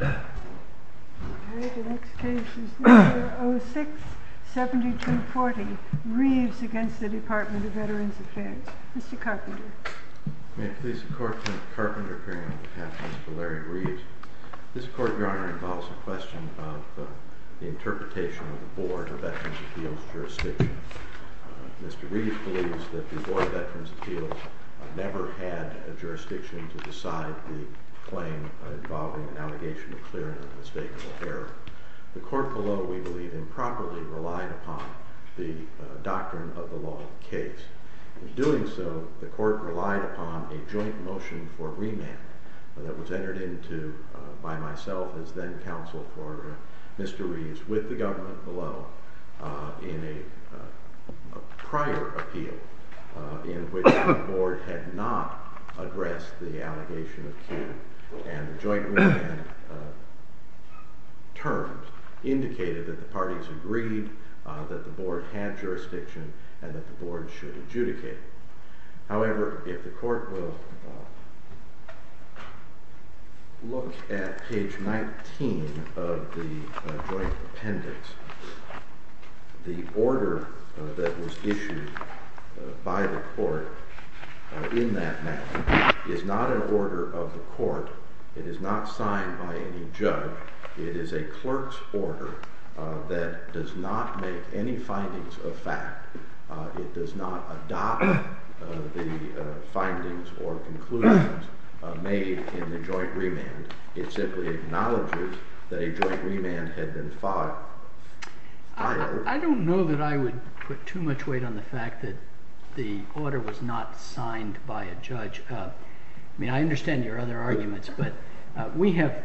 06-7240 Reeves v. Department of Veterans Affairs Mr. Carpenter May it please the Court, Mr. Carpenter, appearing on behalf of Mr. Larry Reeves. This Court, Your Honor, involves a question of the interpretation of the Board of Veterans' Appeals jurisdiction. Mr. Reeves believes that the Board of Veterans' Appeals never had a jurisdiction to decide the claim involving an allegation of clear and unmistakable error. The Court below, we believe, improperly relied upon the doctrine of the law of the case. In doing so, the Court relied upon a joint motion for remand that was entered into by myself as then counsel for Mr. Reeves with the government below in a prior appeal in which the Board had not addressed the allegation of clear. And the joint remand terms indicated that the parties agreed that the Board had jurisdiction and that the Board should adjudicate. However, if the Court will look at page 19 of the joint appendix, the order that was issued by the Court in that matter is not an order of the Court. It is not signed by any judge. It is a clerk's order that does not make any findings of fact. It does not adopt the findings or conclusions made in the joint remand. It simply acknowledges that a joint remand had been filed. I don't know that I would put too much weight on the fact that the order was not signed by a judge. I mean, I understand your other arguments, but we have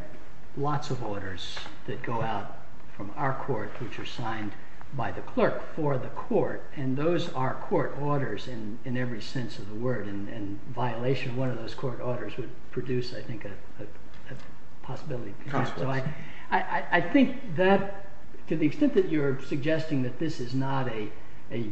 lots of orders that go out from our court which are signed by the clerk for the court. And those are court orders in every sense of the word. And violation of one of those court orders would produce, I think, a possibility. So I think that, to the extent that you're suggesting that this is not a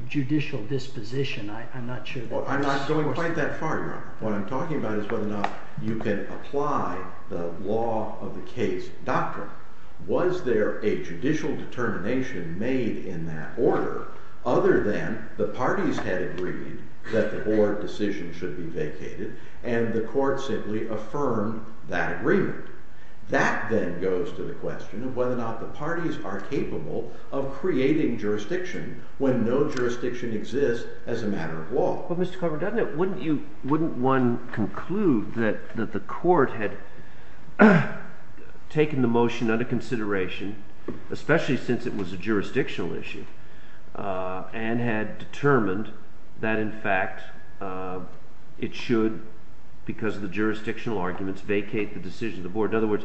judicial disposition, I'm not sure. Well, I'm not going quite that far, Your Honor. What I'm talking about is whether or not you can apply the law of the case doctrine. Was there a judicial determination made in that order other than the parties had agreed that the Board decision should be vacated and the Court simply affirmed that agreement? That then goes to the question of whether or not the parties are capable of creating jurisdiction when no jurisdiction exists as a matter of law. Well, Mr. Carver, wouldn't one conclude that the Court had taken the motion under consideration, especially since it was a jurisdictional issue, and had determined that, in fact, it should, because of the jurisdictional arguments, vacate the decision of the Board? In other words,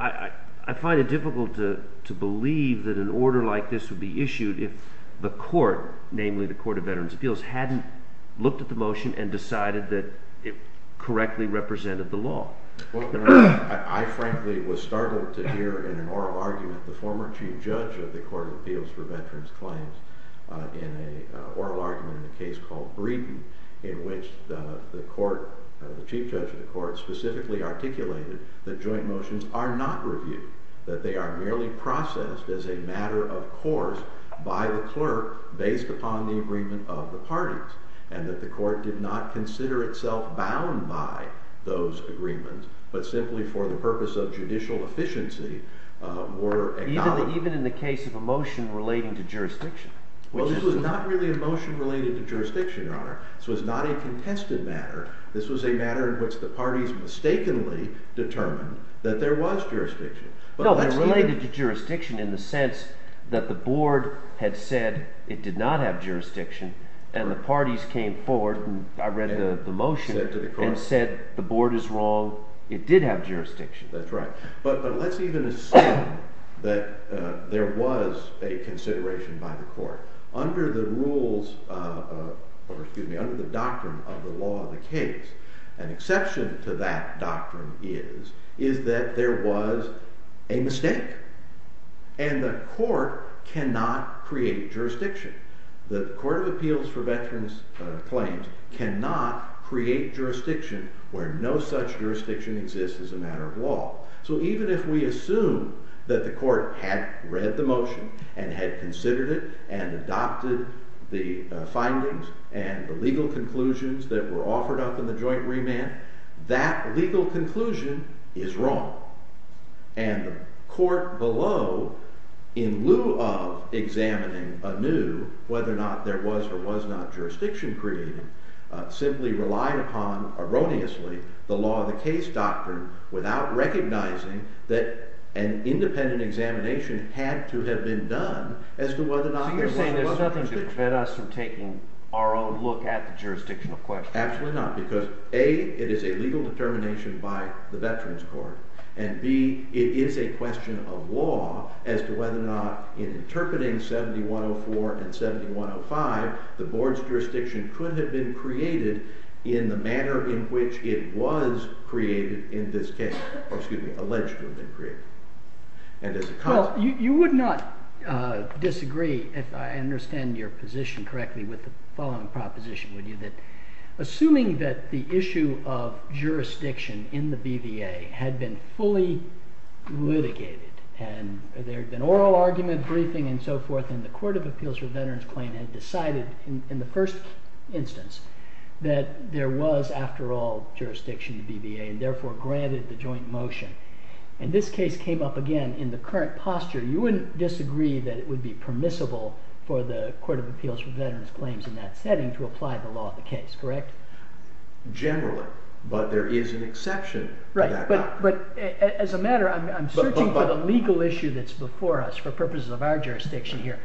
I find it difficult to believe that an order like this would be issued if the Court, namely the Court of Veterans' Appeals, hadn't looked at the motion and decided that it correctly represented the law. Well, I frankly was startled to hear in an oral argument the former Chief Judge of the Court of Appeals for Veterans' Claims in an oral argument in a case called Breeden in which the Chief Judge of the Court specifically articulated that joint motions are not reviewed, that they are merely processed as a matter of course by the clerk based upon the agreement of the parties, and that the Court did not consider itself bound by those agreements but simply for the purpose of judicial efficiency were acknowledged. Even in the case of a motion relating to jurisdiction? Well, this was not really a motion related to jurisdiction, Your Honor. This was not a contested matter. This was a matter in which the parties mistakenly determined that there was jurisdiction. No, but related to jurisdiction in the sense that the Board had said it did not have jurisdiction and the parties came forward, and I read the motion, and said the Board is wrong, it did have jurisdiction. That's right. But let's even assume that there was a consideration by the Court. Under the rules, or excuse me, under the doctrine of the law of the case, an exception to that doctrine is that there was a mistake, and the Court cannot create jurisdiction. The Court of Appeals for Veterans Claims cannot create jurisdiction where no such jurisdiction exists as a matter of law. So even if we assume that the Court had read the motion and had considered it and adopted the findings and the legal conclusions that were offered up in the joint remand, that legal conclusion is wrong. And the Court below, in lieu of examining anew whether or not there was or was not jurisdiction created, simply relied upon, erroneously, the law of the case doctrine without recognizing that an independent examination had to have been done as to whether or not there was or was not jurisdiction. So you're saying there's nothing to prevent us from taking our own look at the jurisdictional question. Absolutely not, because A, it is a legal determination by the Veterans Court, and B, it is a question of law as to whether or not, in interpreting 7104 and 7105, the Board's jurisdiction could have been created in the manner in which it was created in this case, or excuse me, alleged to have been created. Well, you would not disagree, if I understand your position correctly, with the following proposition, would you? Assuming that the issue of jurisdiction in the BVA had been fully litigated, and there had been oral argument, briefing, and so forth, and the Court of Appeals for Veterans Claim had decided, in the first instance, that there was, after all, jurisdiction in the BVA, and therefore granted the joint motion. And this case came up, again, in the current posture. You wouldn't disagree that it would be permissible for the Court of Appeals for Veterans Claims in that setting to apply the law of the case, correct? Generally, but there is an exception. Right, but as a matter, I'm searching for the legal issue that's before us for purposes of our jurisdiction here.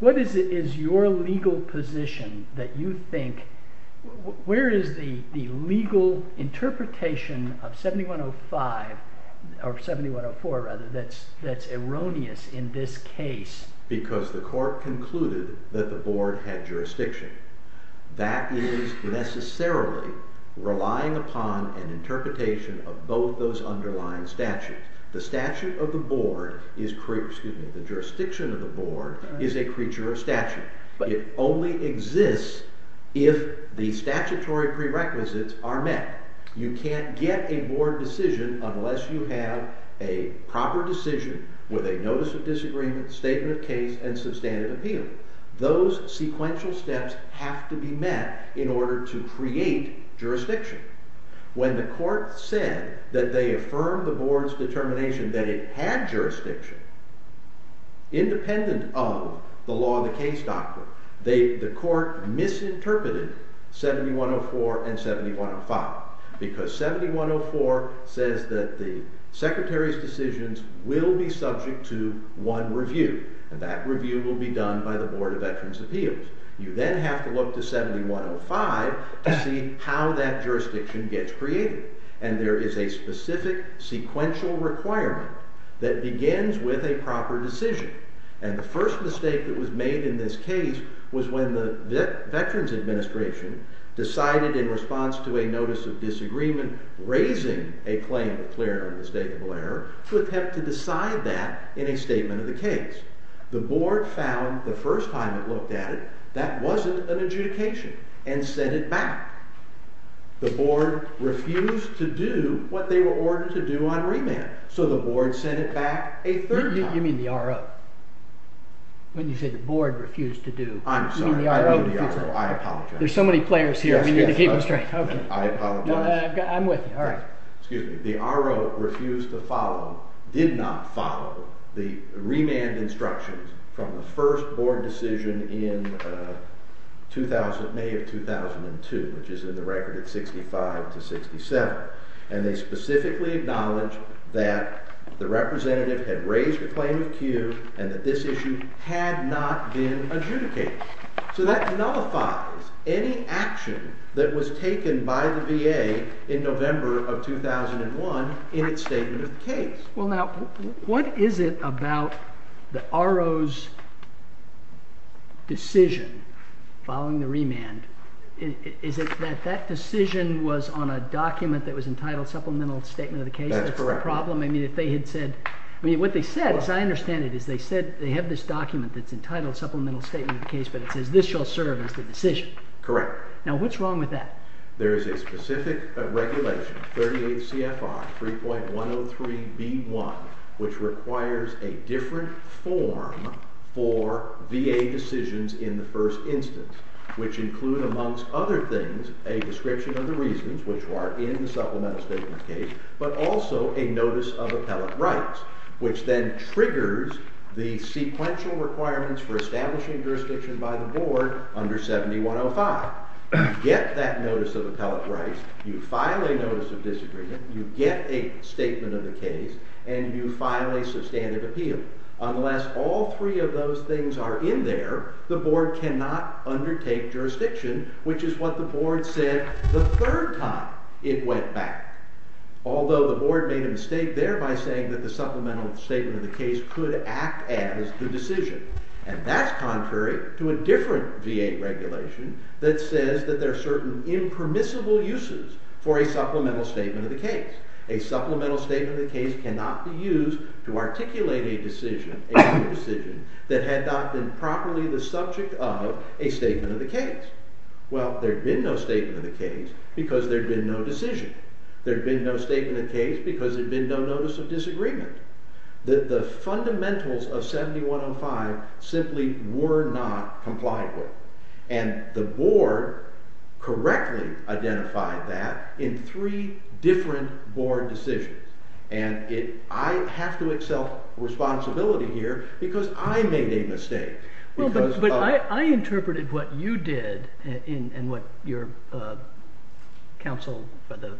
What is your legal position that you think, where is the legal interpretation of 7105, or 7104 rather, that's erroneous in this case? Because the court concluded that the board had jurisdiction. That is necessarily relying upon an interpretation of both those underlying statutes. The statute of the board, excuse me, the jurisdiction of the board, is a creature of statute. It only exists if the statutory prerequisites are met. You can't get a board decision unless you have a proper decision with a notice of disagreement, statement of case, and substantive appeal. Those sequential steps have to be met in order to create jurisdiction. When the court said that they affirmed the board's determination that it had jurisdiction, independent of the law of the case doctrine, the court misinterpreted 7104 and 7105. Because 7104 says that the secretary's decisions will be subject to one review. That review will be done by the Board of Veterans' Appeals. You then have to look to 7105 to see how that jurisdiction gets created. And there is a specific sequential requirement that begins with a proper decision. And the first mistake that was made in this case was when the Veterans Administration decided in response to a notice of disagreement raising a claim of clear and unmistakable error to attempt to decide that in a statement of the case. The board found the first time it looked at it that wasn't an adjudication and sent it back. The board refused to do what they were ordered to do on remand. So the board sent it back a third time. You mean the RO? When you said the board refused to do... I'm sorry, I mean the RO. I apologize. There's so many players here, I need to keep them straight. I apologize. I'm with you. The RO refused to follow, did not follow, the remand instructions from the first board decision in May of 2002, which is in the record at 65 to 67. And they specifically acknowledged that the representative had raised a claim of cue and that this issue had not been adjudicated. So that nullifies any action that was taken by the VA in November of 2001 in its statement of the case. Well, now, what is it about the RO's decision following the remand? Is it that that decision was on a document that was entitled Supplemental Statement of the Case? That's correct. That's the problem? I mean, if they had said... I mean, what they said, as I understand it, is they said they have this document that's entitled Supplemental Statement of the Case, but it says this shall serve as the decision. Correct. Now, what's wrong with that? There is a specific regulation, 38 CFR 3.103b1, which requires a different form for VA decisions in the first instance, which include, amongst other things, a description of the reasons, which are in the Supplemental Statement of the Case, but also a notice of appellate rights, which then triggers the sequential requirements for establishing jurisdiction by the board under 7105. You get that notice of appellate rights, you file a notice of disagreement, you get a statement of the case, and you file a substantive appeal. Unless all three of those things are in there, the board cannot undertake jurisdiction, which is what the board said the third time it went back. Although the board made a mistake there by saying that the Supplemental Statement of the Case could act as the decision, and that's contrary to a different VA regulation that says that there are certain impermissible uses for a Supplemental Statement of the Case. A Supplemental Statement of the Case cannot be used to articulate a decision that had not been properly the subject of a statement of the case. Well, there'd been no statement of the case because there'd been no decision. There'd been no statement of the case because there'd been no notice of disagreement. The fundamentals of 7105 simply were not complied with. And the board correctly identified that in three different board decisions. And I have to accept responsibility here because I made a mistake. Well, but I interpreted what you did and what your counsel for the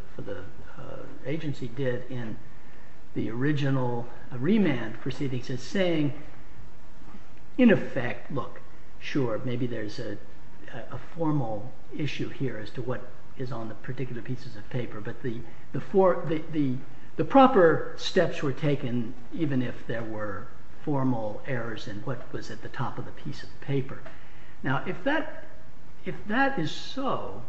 agency did in the original remand proceedings as saying, in effect, look, sure, maybe there's a formal issue here as to what is on the particular pieces of paper, but the proper steps were taken even if there were formal errors in what was at the top of the piece of paper. Now, if that is so,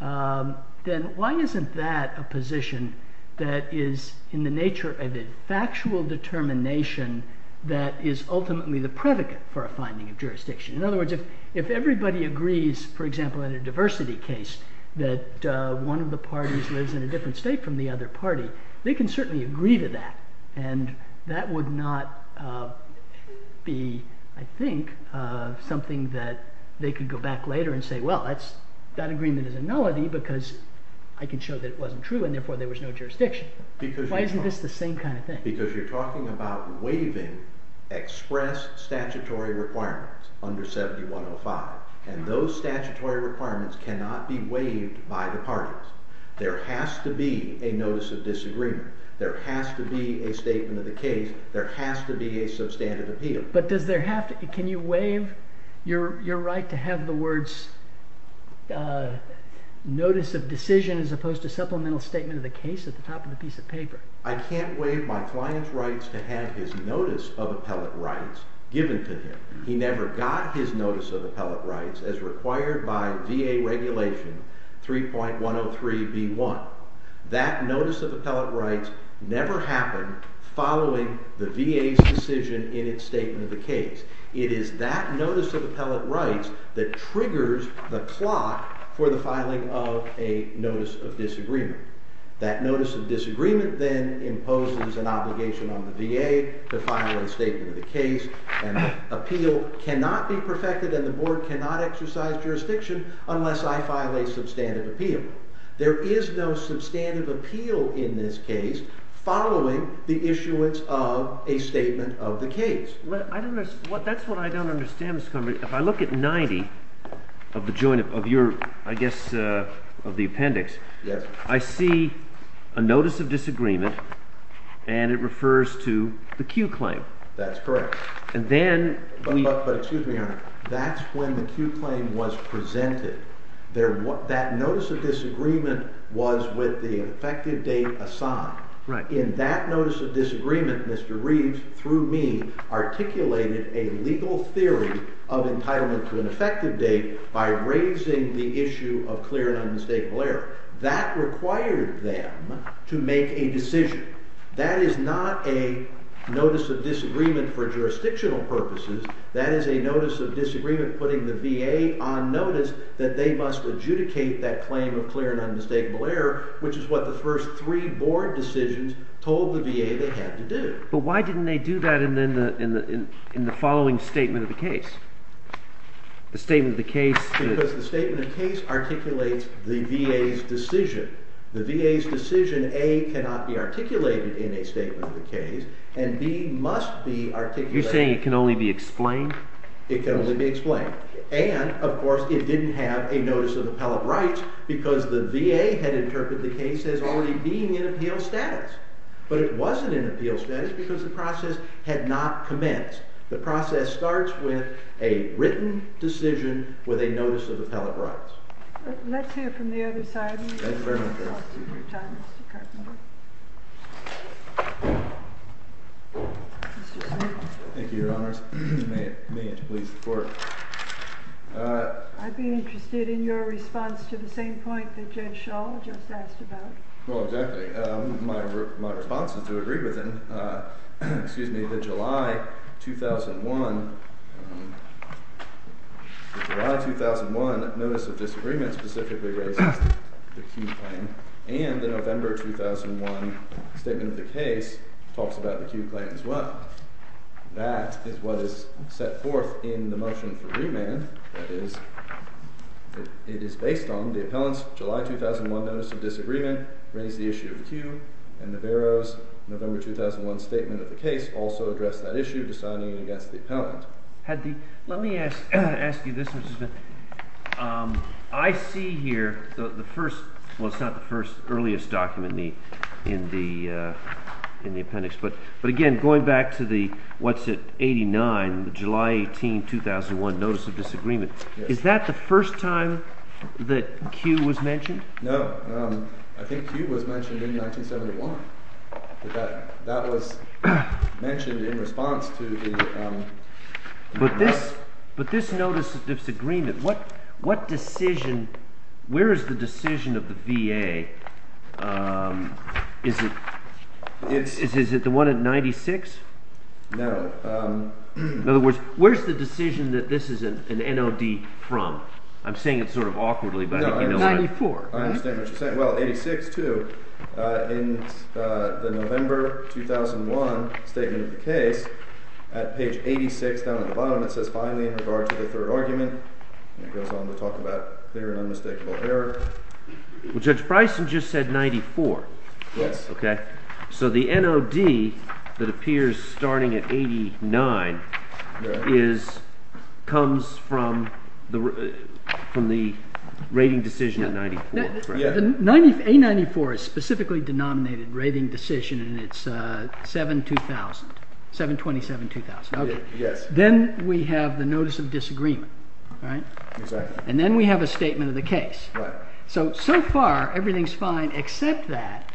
then why isn't that a position that is in the nature of a factual determination that is ultimately the predicate for a finding of jurisdiction? In other words, if everybody agrees, for example, in a diversity case, that one of the parties lives in a different state from the other party, they can certainly agree to that. And that would not be, I think, something that they could go back later and say, well, that agreement is a nullity because I can show that it wasn't true and therefore there was no jurisdiction. Why isn't this the same kind of thing? Because you're talking about waiving express statutory requirements under 7105. And those statutory requirements cannot be waived by the parties. There has to be a notice of disagreement. There has to be a statement of the case. There has to be a substantive appeal. But can you waive your right to have the words notice of decision as opposed to supplemental statement of the case at the top of the piece of paper? I can't waive my client's rights to have his notice of appellate rights given to him. He never got his notice of appellate rights as required by VA regulation 3.103b1. That notice of appellate rights never happened following the VA's decision in its statement of the case. It is that notice of appellate rights that triggers the clock for the filing of a notice of disagreement. That notice of disagreement then imposes an obligation on the VA to file a statement of the case. And the appeal cannot be perfected and the board cannot exercise jurisdiction unless I file a substantive appeal. There is no substantive appeal in this case following the issuance of a statement of the case. That's what I don't understand, Mr. Convery. If I look at 90 of the joint, of your, I guess, of the appendix, I see a notice of disagreement and it refers to the Q claim. That's correct. But, excuse me, Your Honor, that's when the Q claim was presented. That notice of disagreement was with the effective date assigned. In that notice of disagreement, Mr. Reeves, through me, articulated a legal theory of entitlement to an effective date by raising the issue of clear and unmistakable error. That required them to make a decision. That is not a notice of disagreement for jurisdictional purposes. That is a notice of disagreement putting the VA on notice that they must adjudicate that claim of clear and unmistakable error, which is what the first three board decisions told the VA they had to do. But why didn't they do that in the following statement of the case? The statement of the case... articulates the VA's decision. The VA's decision, A, cannot be articulated in a statement of the case, and B, must be articulated... You're saying it can only be explained? It can only be explained. And, of course, it didn't have a notice of appellate rights because the VA had interpreted the case as already being in appeal status. But it wasn't in appeal status because the process had not commenced. The process starts with a written decision with a notice of appellate rights. Let's hear from the other side. Thank you very much. Thank you, Your Honors. May it please the Court. I'd be interested in your response to the same point that Judge Shaw just asked about. Well, exactly. My response is to agree with him that July 2001 July 2001 notice of disagreement specifically raises the Kew claim, and the November 2001 statement of the case talks about the Kew claim as well. That is what is set forth in the motion for remand. It is based on the appellant's July 2001 notice of disagreement raised the issue of the Kew and Navarro's November 2001 statement of the case also addressed that issue deciding against the appellant. Let me ask you this, Mr. Smith. I see here the first, well, it's not the first earliest document in the appendix, but again, going back to the what's it, 89, the July 18 2001 notice of disagreement is that the first time that Kew was mentioned? No. I think Kew was mentioned in 1971. That was mentioned in response to the But this notice of disagreement, what decision, where is the decision of the VA is it the one at 96? No. In other words, where is the decision that this is an NOD from? I'm saying it sort of awkwardly I understand what you're saying. Well, 86 too in the November 2001 statement of the case at page 86 down at the bottom it says finally in regard to the third argument, and it goes on to talk about clear and unmistakable error Judge Bryson just said 94. Yes. Okay. So the NOD that appears starting at 89 is comes from the rating decision at 94. A94 is specifically denominated rating decision and it's 727-2000. Then we have the notice of disagreement. And then we have a statement of the case. So, so far, everything's fine except that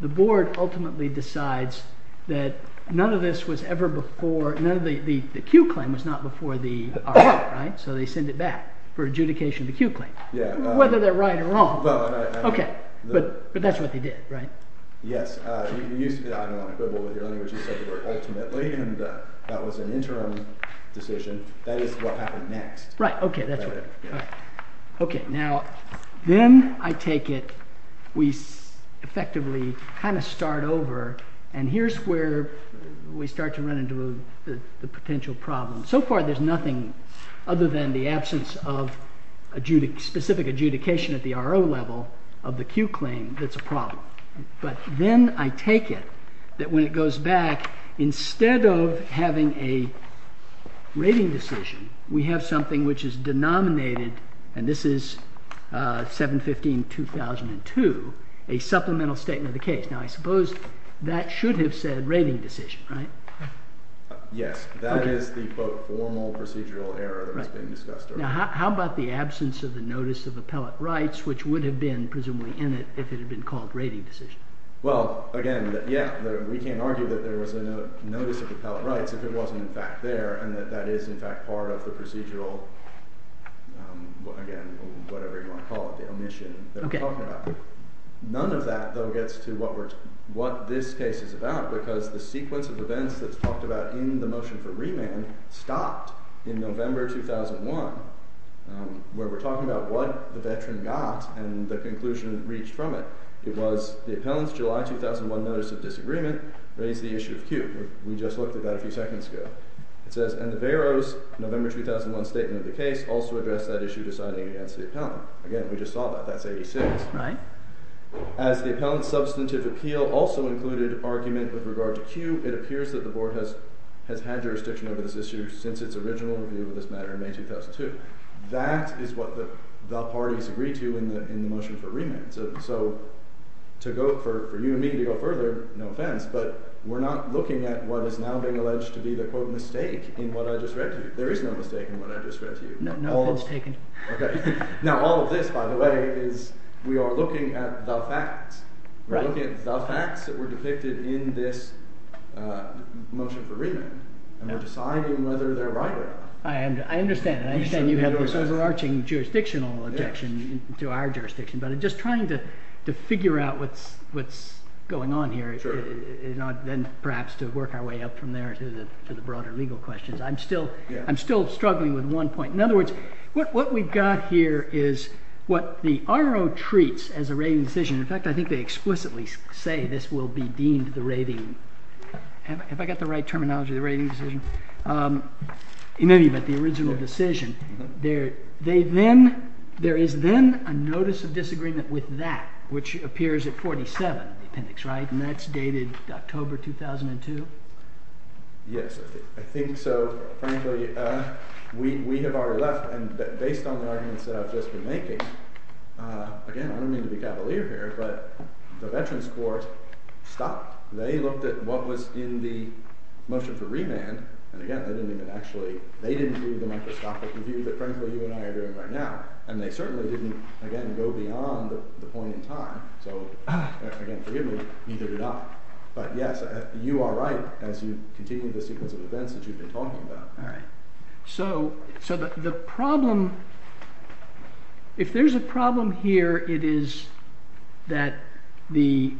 the board ultimately decides that none of this was ever before the Kew claim was not before the RO, right? So they send it back for adjudication of the Kew claim. Whether they're right or wrong. Okay. But that's what they did, right? Yes. That was an interim decision. That is what happened next. Okay. Then I take it we effectively kind of start over and here's where we start to run into the potential problem. So far there's nothing other than the absence of specific adjudication at the RO level of the Kew claim that's a problem. But then I take it that when it goes back instead of having a rating decision we have something which is denominated, and this is 715-2002 a supplemental statement of the case. Now I suppose that should have said rating decision, right? Yes. That is the both formal procedural error Now how about the absence of the notice of appellate rights which would have been presumably in it if it had been called rating decision? Well, again, we can't argue that there was a notice of appellate rights if it wasn't in fact there and that is in fact part of the procedural again, whatever you want to call it, the omission. None of that though gets to what this case is about because the sequence of events that's talked about in the motion for remand stopped in November 2001 where we're talking about what the veteran got and the conclusion reached from it it was the appellant's July 2001 notice of disagreement raised the issue of Kew. We just looked at that a few seconds ago. It says, and the Vero's November 2001 statement of the case also addressed that issue deciding against the appellant Again, we just saw that. That's 86. As the appellant's substantive appeal also included argument with regard to Kew, it appears that the board has had jurisdiction over this issue since its original review of this matter in May 2002. That is what the parties agreed to in the motion for remand. So for you and me to go further no offense, but we're not looking at what is now being alleged to be the quote mistake in what I just read to you. There is no mistake in what I just read to you. Now all of this by the way, is we are looking at the facts. The facts that were depicted in this motion for remand, and we're deciding whether they're right or not. I understand and I understand you have this overarching jurisdictional objection to our jurisdiction, but I'm just trying to figure out what's going on here, and then perhaps to work our way up from there to the broader legal questions. I'm still struggling with one point. In other words what we've got here is what the RO treats as a rating decision, in fact I think they explicitly say this will be deemed the rating decision. Have I got the right terminology, the rating decision? Maybe you meant the original decision. They then there is then a notice of disagreement with that, which appears at 47, the appendix, right? And that's dated October 2002? Yes, I think so, frankly we have already left, and based on the arguments that I've just been making again, I don't mean to be cavalier here, but the veterans court stopped. They looked at what was in the motion for remand, and again they didn't even actually they didn't do the microscopic review that frankly you and I are doing right now, and they certainly didn't, again, go beyond the point in time, so again, forgive me, either did I. But yes, you are right as you continue the sequence of events that you've been talking about. Alright, so the problem if there's a problem here, it is that the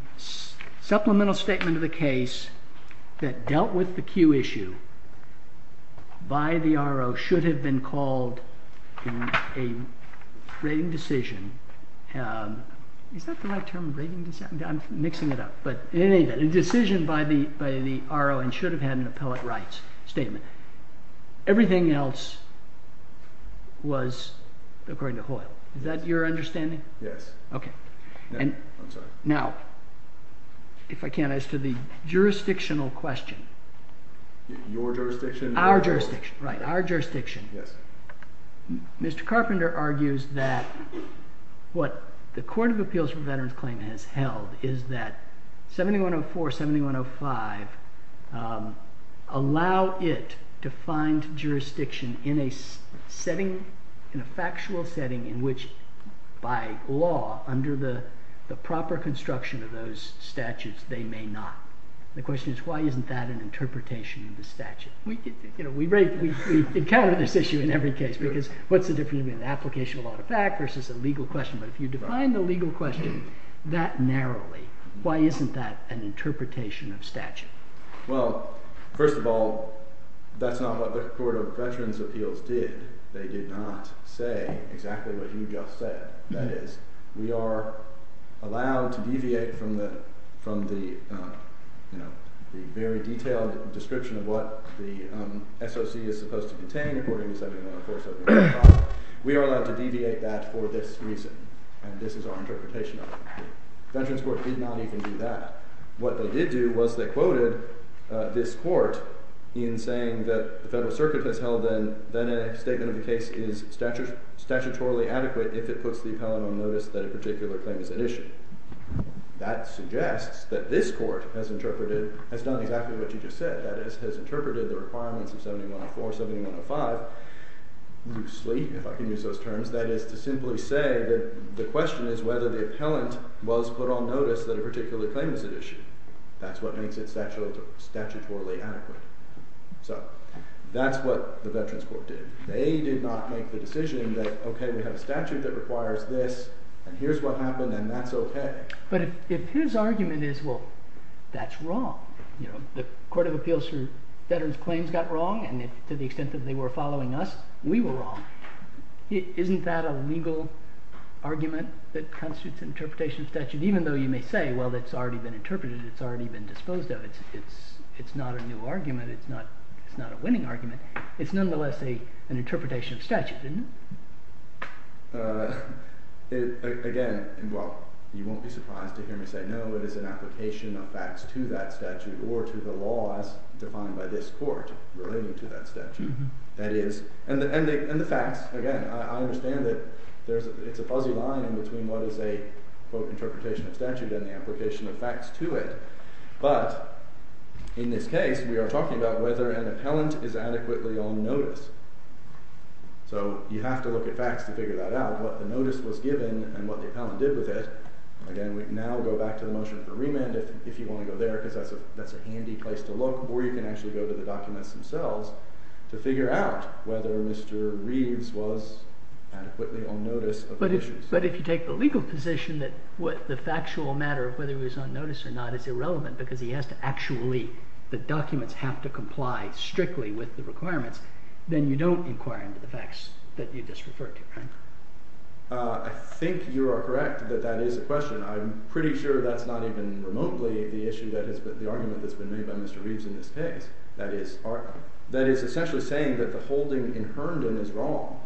supplemental statement of the case that dealt with the Q issue by the R.O. should have been called a rating decision is that the right term? I'm mixing it up, but a decision by the R.O. and should have had an appellate rights statement everything else was according to Hoyle. Is that your understanding? Yes. Now if I can, as to the jurisdictional question Your jurisdiction? Our jurisdiction. Our jurisdiction. Mr. Carpenter argues that what the Court of Appeals for Veterans Claim has held 7105 allow it to find jurisdiction in a setting, in a factual setting in which by law, under the proper construction of those statutes they may not. The question is why isn't that an interpretation of the statute? We encounter this issue in every case because what's the difference between an application of a law to fact versus a legal question, but if you define the legal question that narrowly why isn't that an interpretation of statute? Well first of all, that's not what the Court of Veterans Appeals did. They did not say exactly what you just said. That is we are allowed to deviate from the very detailed description of what the SOC is supposed to contain according to 7105 we are allowed to deviate that for this reason, and this is our interpretation of it. Veterans Court did not even do that. What they did do was they quoted this court in saying that the Federal statement of the case is statutorily adequate if it puts the appellant on notice that a particular claim is at issue. That suggests that this court has interpreted, has done exactly what you just said, that is has interpreted the requirements of 7104, 7105 loosely if I can use those terms, that is to simply say that the question is whether the appellant was put on notice that a particular claim is at issue. That's what makes it statutorily adequate. So that's what the Veterans Court did. They did not make the decision that okay we have a statute that requires this and here's what happened and that's okay. But if his argument is well that's wrong, you know, the Court of Appeals for Veterans Claims got wrong and to the extent that they were following us, we were wrong. Isn't that a legal argument that constitutes an interpretation of statute even though you may say well it's already been interpreted, it's already been disposed of it's not a new argument it's not a winning argument it's nonetheless an interpretation of statute isn't it? Again well you won't be surprised to hear me say no it is an application of facts to that statute or to the law as defined by this court relating to that statute, that is and the facts, again I understand that it's a fuzzy line in between what is a quote interpretation of statute and the application of facts to it, but in this case we are talking about whether an appellant is adequately on notice so you have to look at facts to figure that out, what the notice was given and what the appellant did with it, again we now go back to the motion for remand if you want to go there because that's a handy place to look or you can actually go to the documents themselves to figure out whether Mr. Reeves was adequately on notice of the issues. But if you take the legal position that the factual matter of whether he was actually, the documents have to comply strictly with the requirements then you don't inquire into the facts that you just referred to, right? I think you are correct that that is a question, I'm pretty sure that's not even remotely the argument that's been made by Mr. Reeves in this case, that is essentially saying that the holding in Herndon is wrong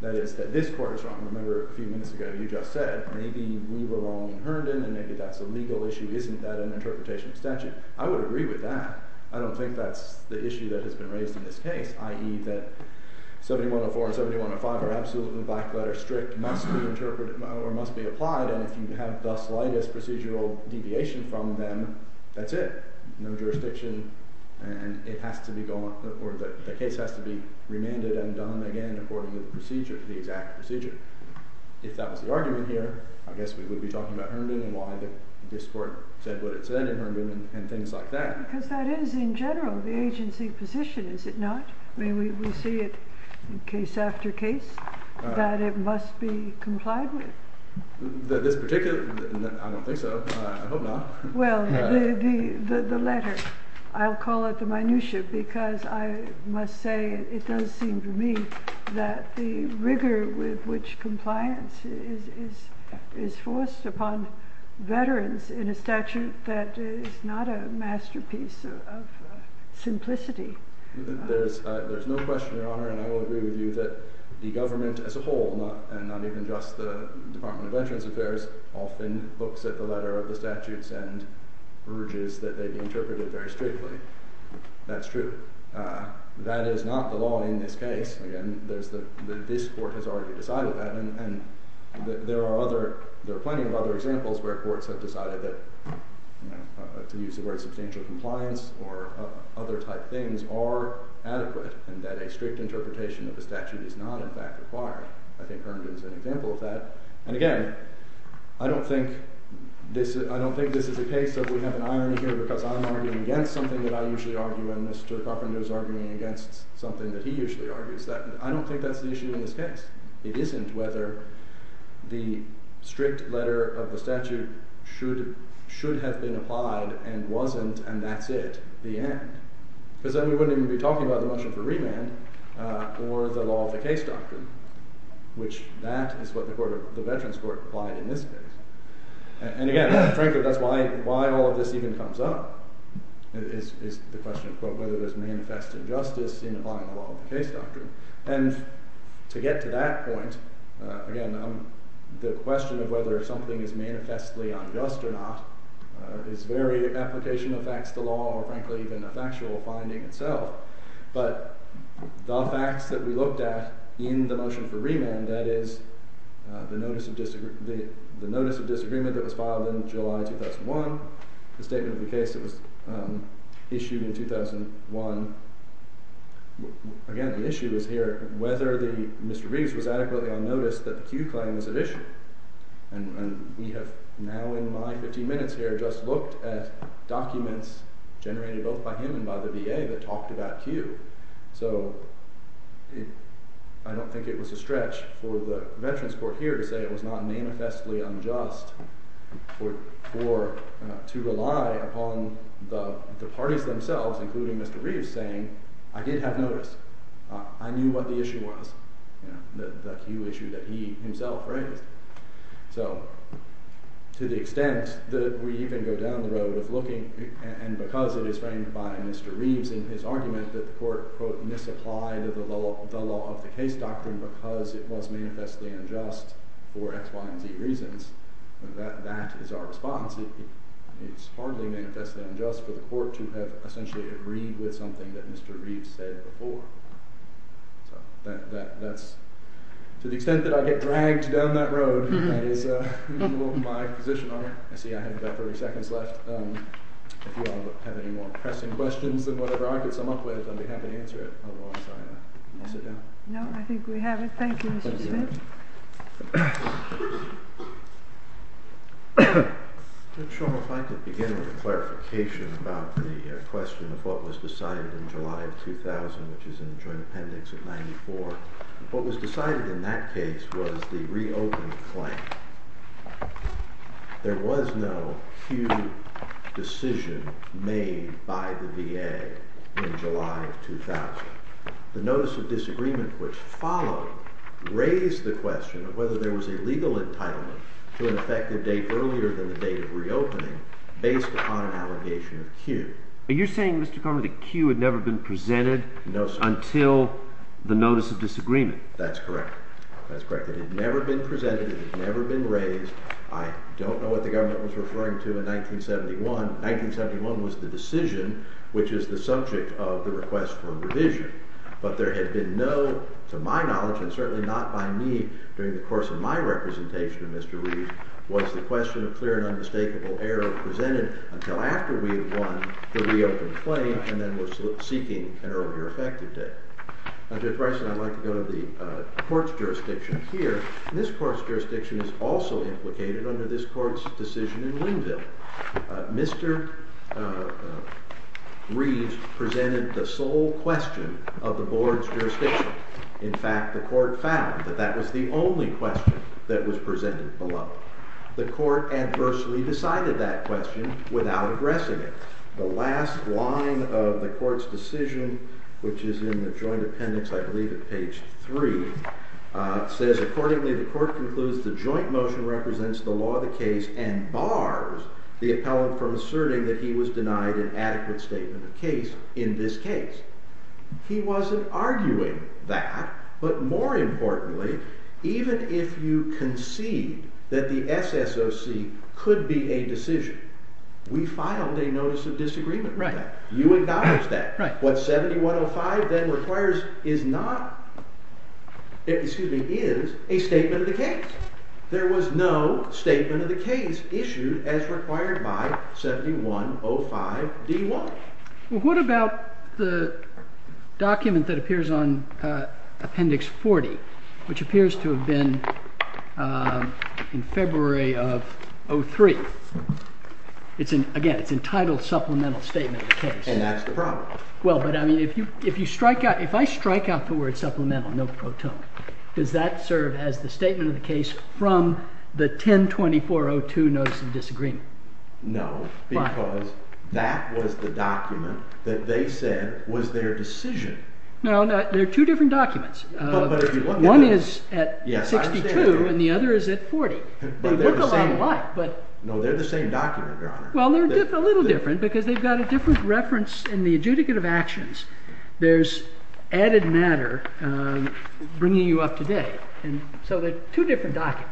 that is that this court is wrong, remember a few minutes ago you just said maybe we were wrong in Herndon and maybe that's a legal issue isn't that an interpretation of statute? I would agree with that, I don't think that's the issue that has been raised in this case i.e. that 7104 and 7105 are absolutely black letter strict must be interpreted or must be applied and if you have the slightest procedural deviation from them that's it, no jurisdiction and it has to be gone or the case has to be remanded and done again according to the procedure the exact procedure. If that was the argument here, I guess we would be talking about Herndon and why this court said what it said in Herndon and things like that Because that is in general the agency position, is it not? We see it case after case that it must be complied with This particular, I don't think so I hope not. Well the letter, I'll call it the minutia because I must say it does seem to me that the rigor with which compliance is forced upon veterans in a statute that is not a masterpiece of simplicity. There's no question, your honor, and I will agree with you that the government as a whole and not even just the Department of Veterans Affairs often looks at the letter of the statutes and urges that they be interpreted very strictly That's true That is not the law in this case, again, this court has already decided that There are other, there are plenty of other examples where courts have decided that to use the word substantial compliance or other type things are adequate and that a strict interpretation of the statute is not in fact required. I think Herndon is an example of that. And again I don't think I don't think this is a case of we have an irony here because I'm arguing against something that I usually argue and Mr. Cochran is arguing against something that he usually argues I don't think that's the issue in this case It isn't whether the strict letter of the statute should have been applied and wasn't and that's it, the end because then we wouldn't even be talking about the motion for remand or the law of the case doctrine, which that is what the veterans court applied in this case. And again frankly that's why all of this even comes up is the question of whether there's manifest injustice in applying the law of the case doctrine and to get to that point, again the question of whether something is manifestly unjust or not is very application of facts the law or frankly even a factual finding itself, but the facts that we looked at in the motion for remand, that is the notice of the notice of disagreement that was filed in July 2001 the statement of the case that was filed in July 2001 again the issue is here whether Mr. Riggs was adequately on notice that the Q claim was an issue and we have now in my 15 minutes here just looked at documents generated both by him and by the VA that talked about Q so I don't think it was a stretch for the veterans court here to say it was not manifestly unjust to rely upon the parties themselves including Mr. Riggs saying I did have notice, I knew what the issue was, the Q issue that he himself raised so to the extent that we even go down the road of looking and because it is framed by Mr. Riggs in his argument that the court quote misapplied the law of the case doctrine because it was manifestly unjust for X, Y, and Z reasons that is our response it is hardly manifestly unjust for the court to have essentially agreed with something that Mr. Riggs said before so that's to the extent that I get dragged down that road that is my position on it, I see I have about 30 seconds left if you all have any more pressing questions than whatever I could sum up with I'd be happy to answer it otherwise I'll sit down no I think we have it, thank you Mr. Riggs Mr. Shulman if I could begin with a clarification about the question of what was decided in July of 2000 which is in the joint appendix of 94 what was decided in that case was the reopen claim there was no Q decision made by the VA in July of 2000 the notice of disagreement which followed raised the question of whether there was a legal entitlement to an effective date earlier than the date of reopening based upon an allegation of Q are you saying Mr. Carman that Q had never been presented until the notice of disagreement that's correct it had never been presented, it had never been raised I don't know what the government was referring to in 1971 1971 was the decision which is the subject of the request for revision but there had been no, to my knowledge and certainly not by me during the course of my representation of Mr. Riggs was the question of clear and unmistakable error presented until after we had won the reopen claim and then were seeking an earlier effective date I'd like to go to the court's jurisdiction here this court's jurisdiction is also implicated under this court's decision in Linville Mr. Riggs presented the sole question of the board's jurisdiction in fact the court found that that was the only question that was presented below the court adversely decided that question without addressing it the last line of the court's decision which is in the joint appendix I believe at page 3 says accordingly the court concludes the joint motion represents the law of the case and bars the appellant from asserting that he was denied an adequate statement of case in this case he wasn't arguing that but more importantly even if you concede that the SSOC could be a decision we filed a notice of disagreement with that you acknowledged that what 7105 then requires is not excuse me is a statement of the case there was no statement of the case issued as required by 7105 D1 what about the document that appears on appendix 40 which appears to have been in February of 03 again it's entitled supplemental statement of the case if I strike out the word supplemental does that serve as the statement of the case from the 1024-02 notice of disagreement no because that was the document that they said was their decision there are two different documents one is at 62 and the other is at 40 they look a lot alike they're the same document your honor a little different because they've got a different reference in the adjudicative actions there's added matter bringing you up today so they're two different documents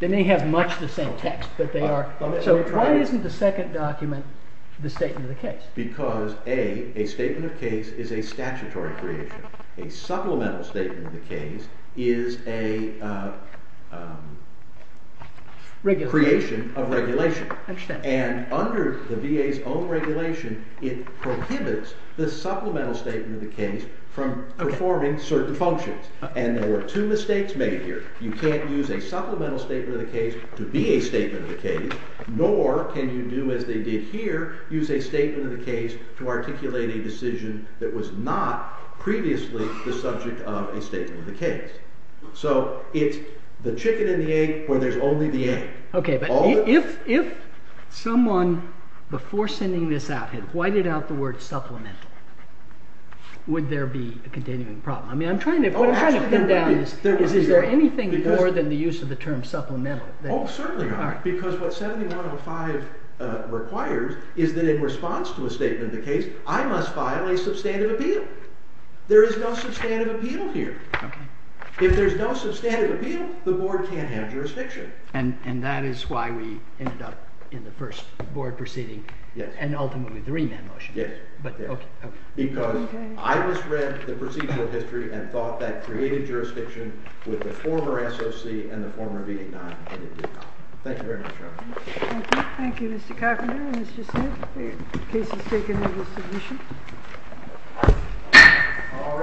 they may have much the same context so why isn't the second document the statement of the case because A a statement of case is a statutory creation a supplemental statement of the case is a creation of regulation and under the VA's own regulation it prohibits the supplemental statement of the case from performing certain functions and there were two mistakes made here you can't use a supplemental statement of the case to be a statement of the case nor can you do as they did here use a statement of the case to articulate a decision that was not previously the subject of a statement of the case so it's the chicken and the egg where there's only the egg if someone before sending this out had whited out the word supplemental would there be a continuing problem I'm trying to pin down is there anything more than the use of the term supplemental because what 7105 requires is that in response to a statement of the case I must file a substantive appeal there is no substantive appeal here if there's no substantive appeal the board can't have jurisdiction and that is why we ended up in the first board proceeding and ultimately the remand motion because I misread the procedural history and thought that created jurisdiction with the former SOC and the former V-9 thank you very much thank you Mr. Coffin the case is taken into submission all rise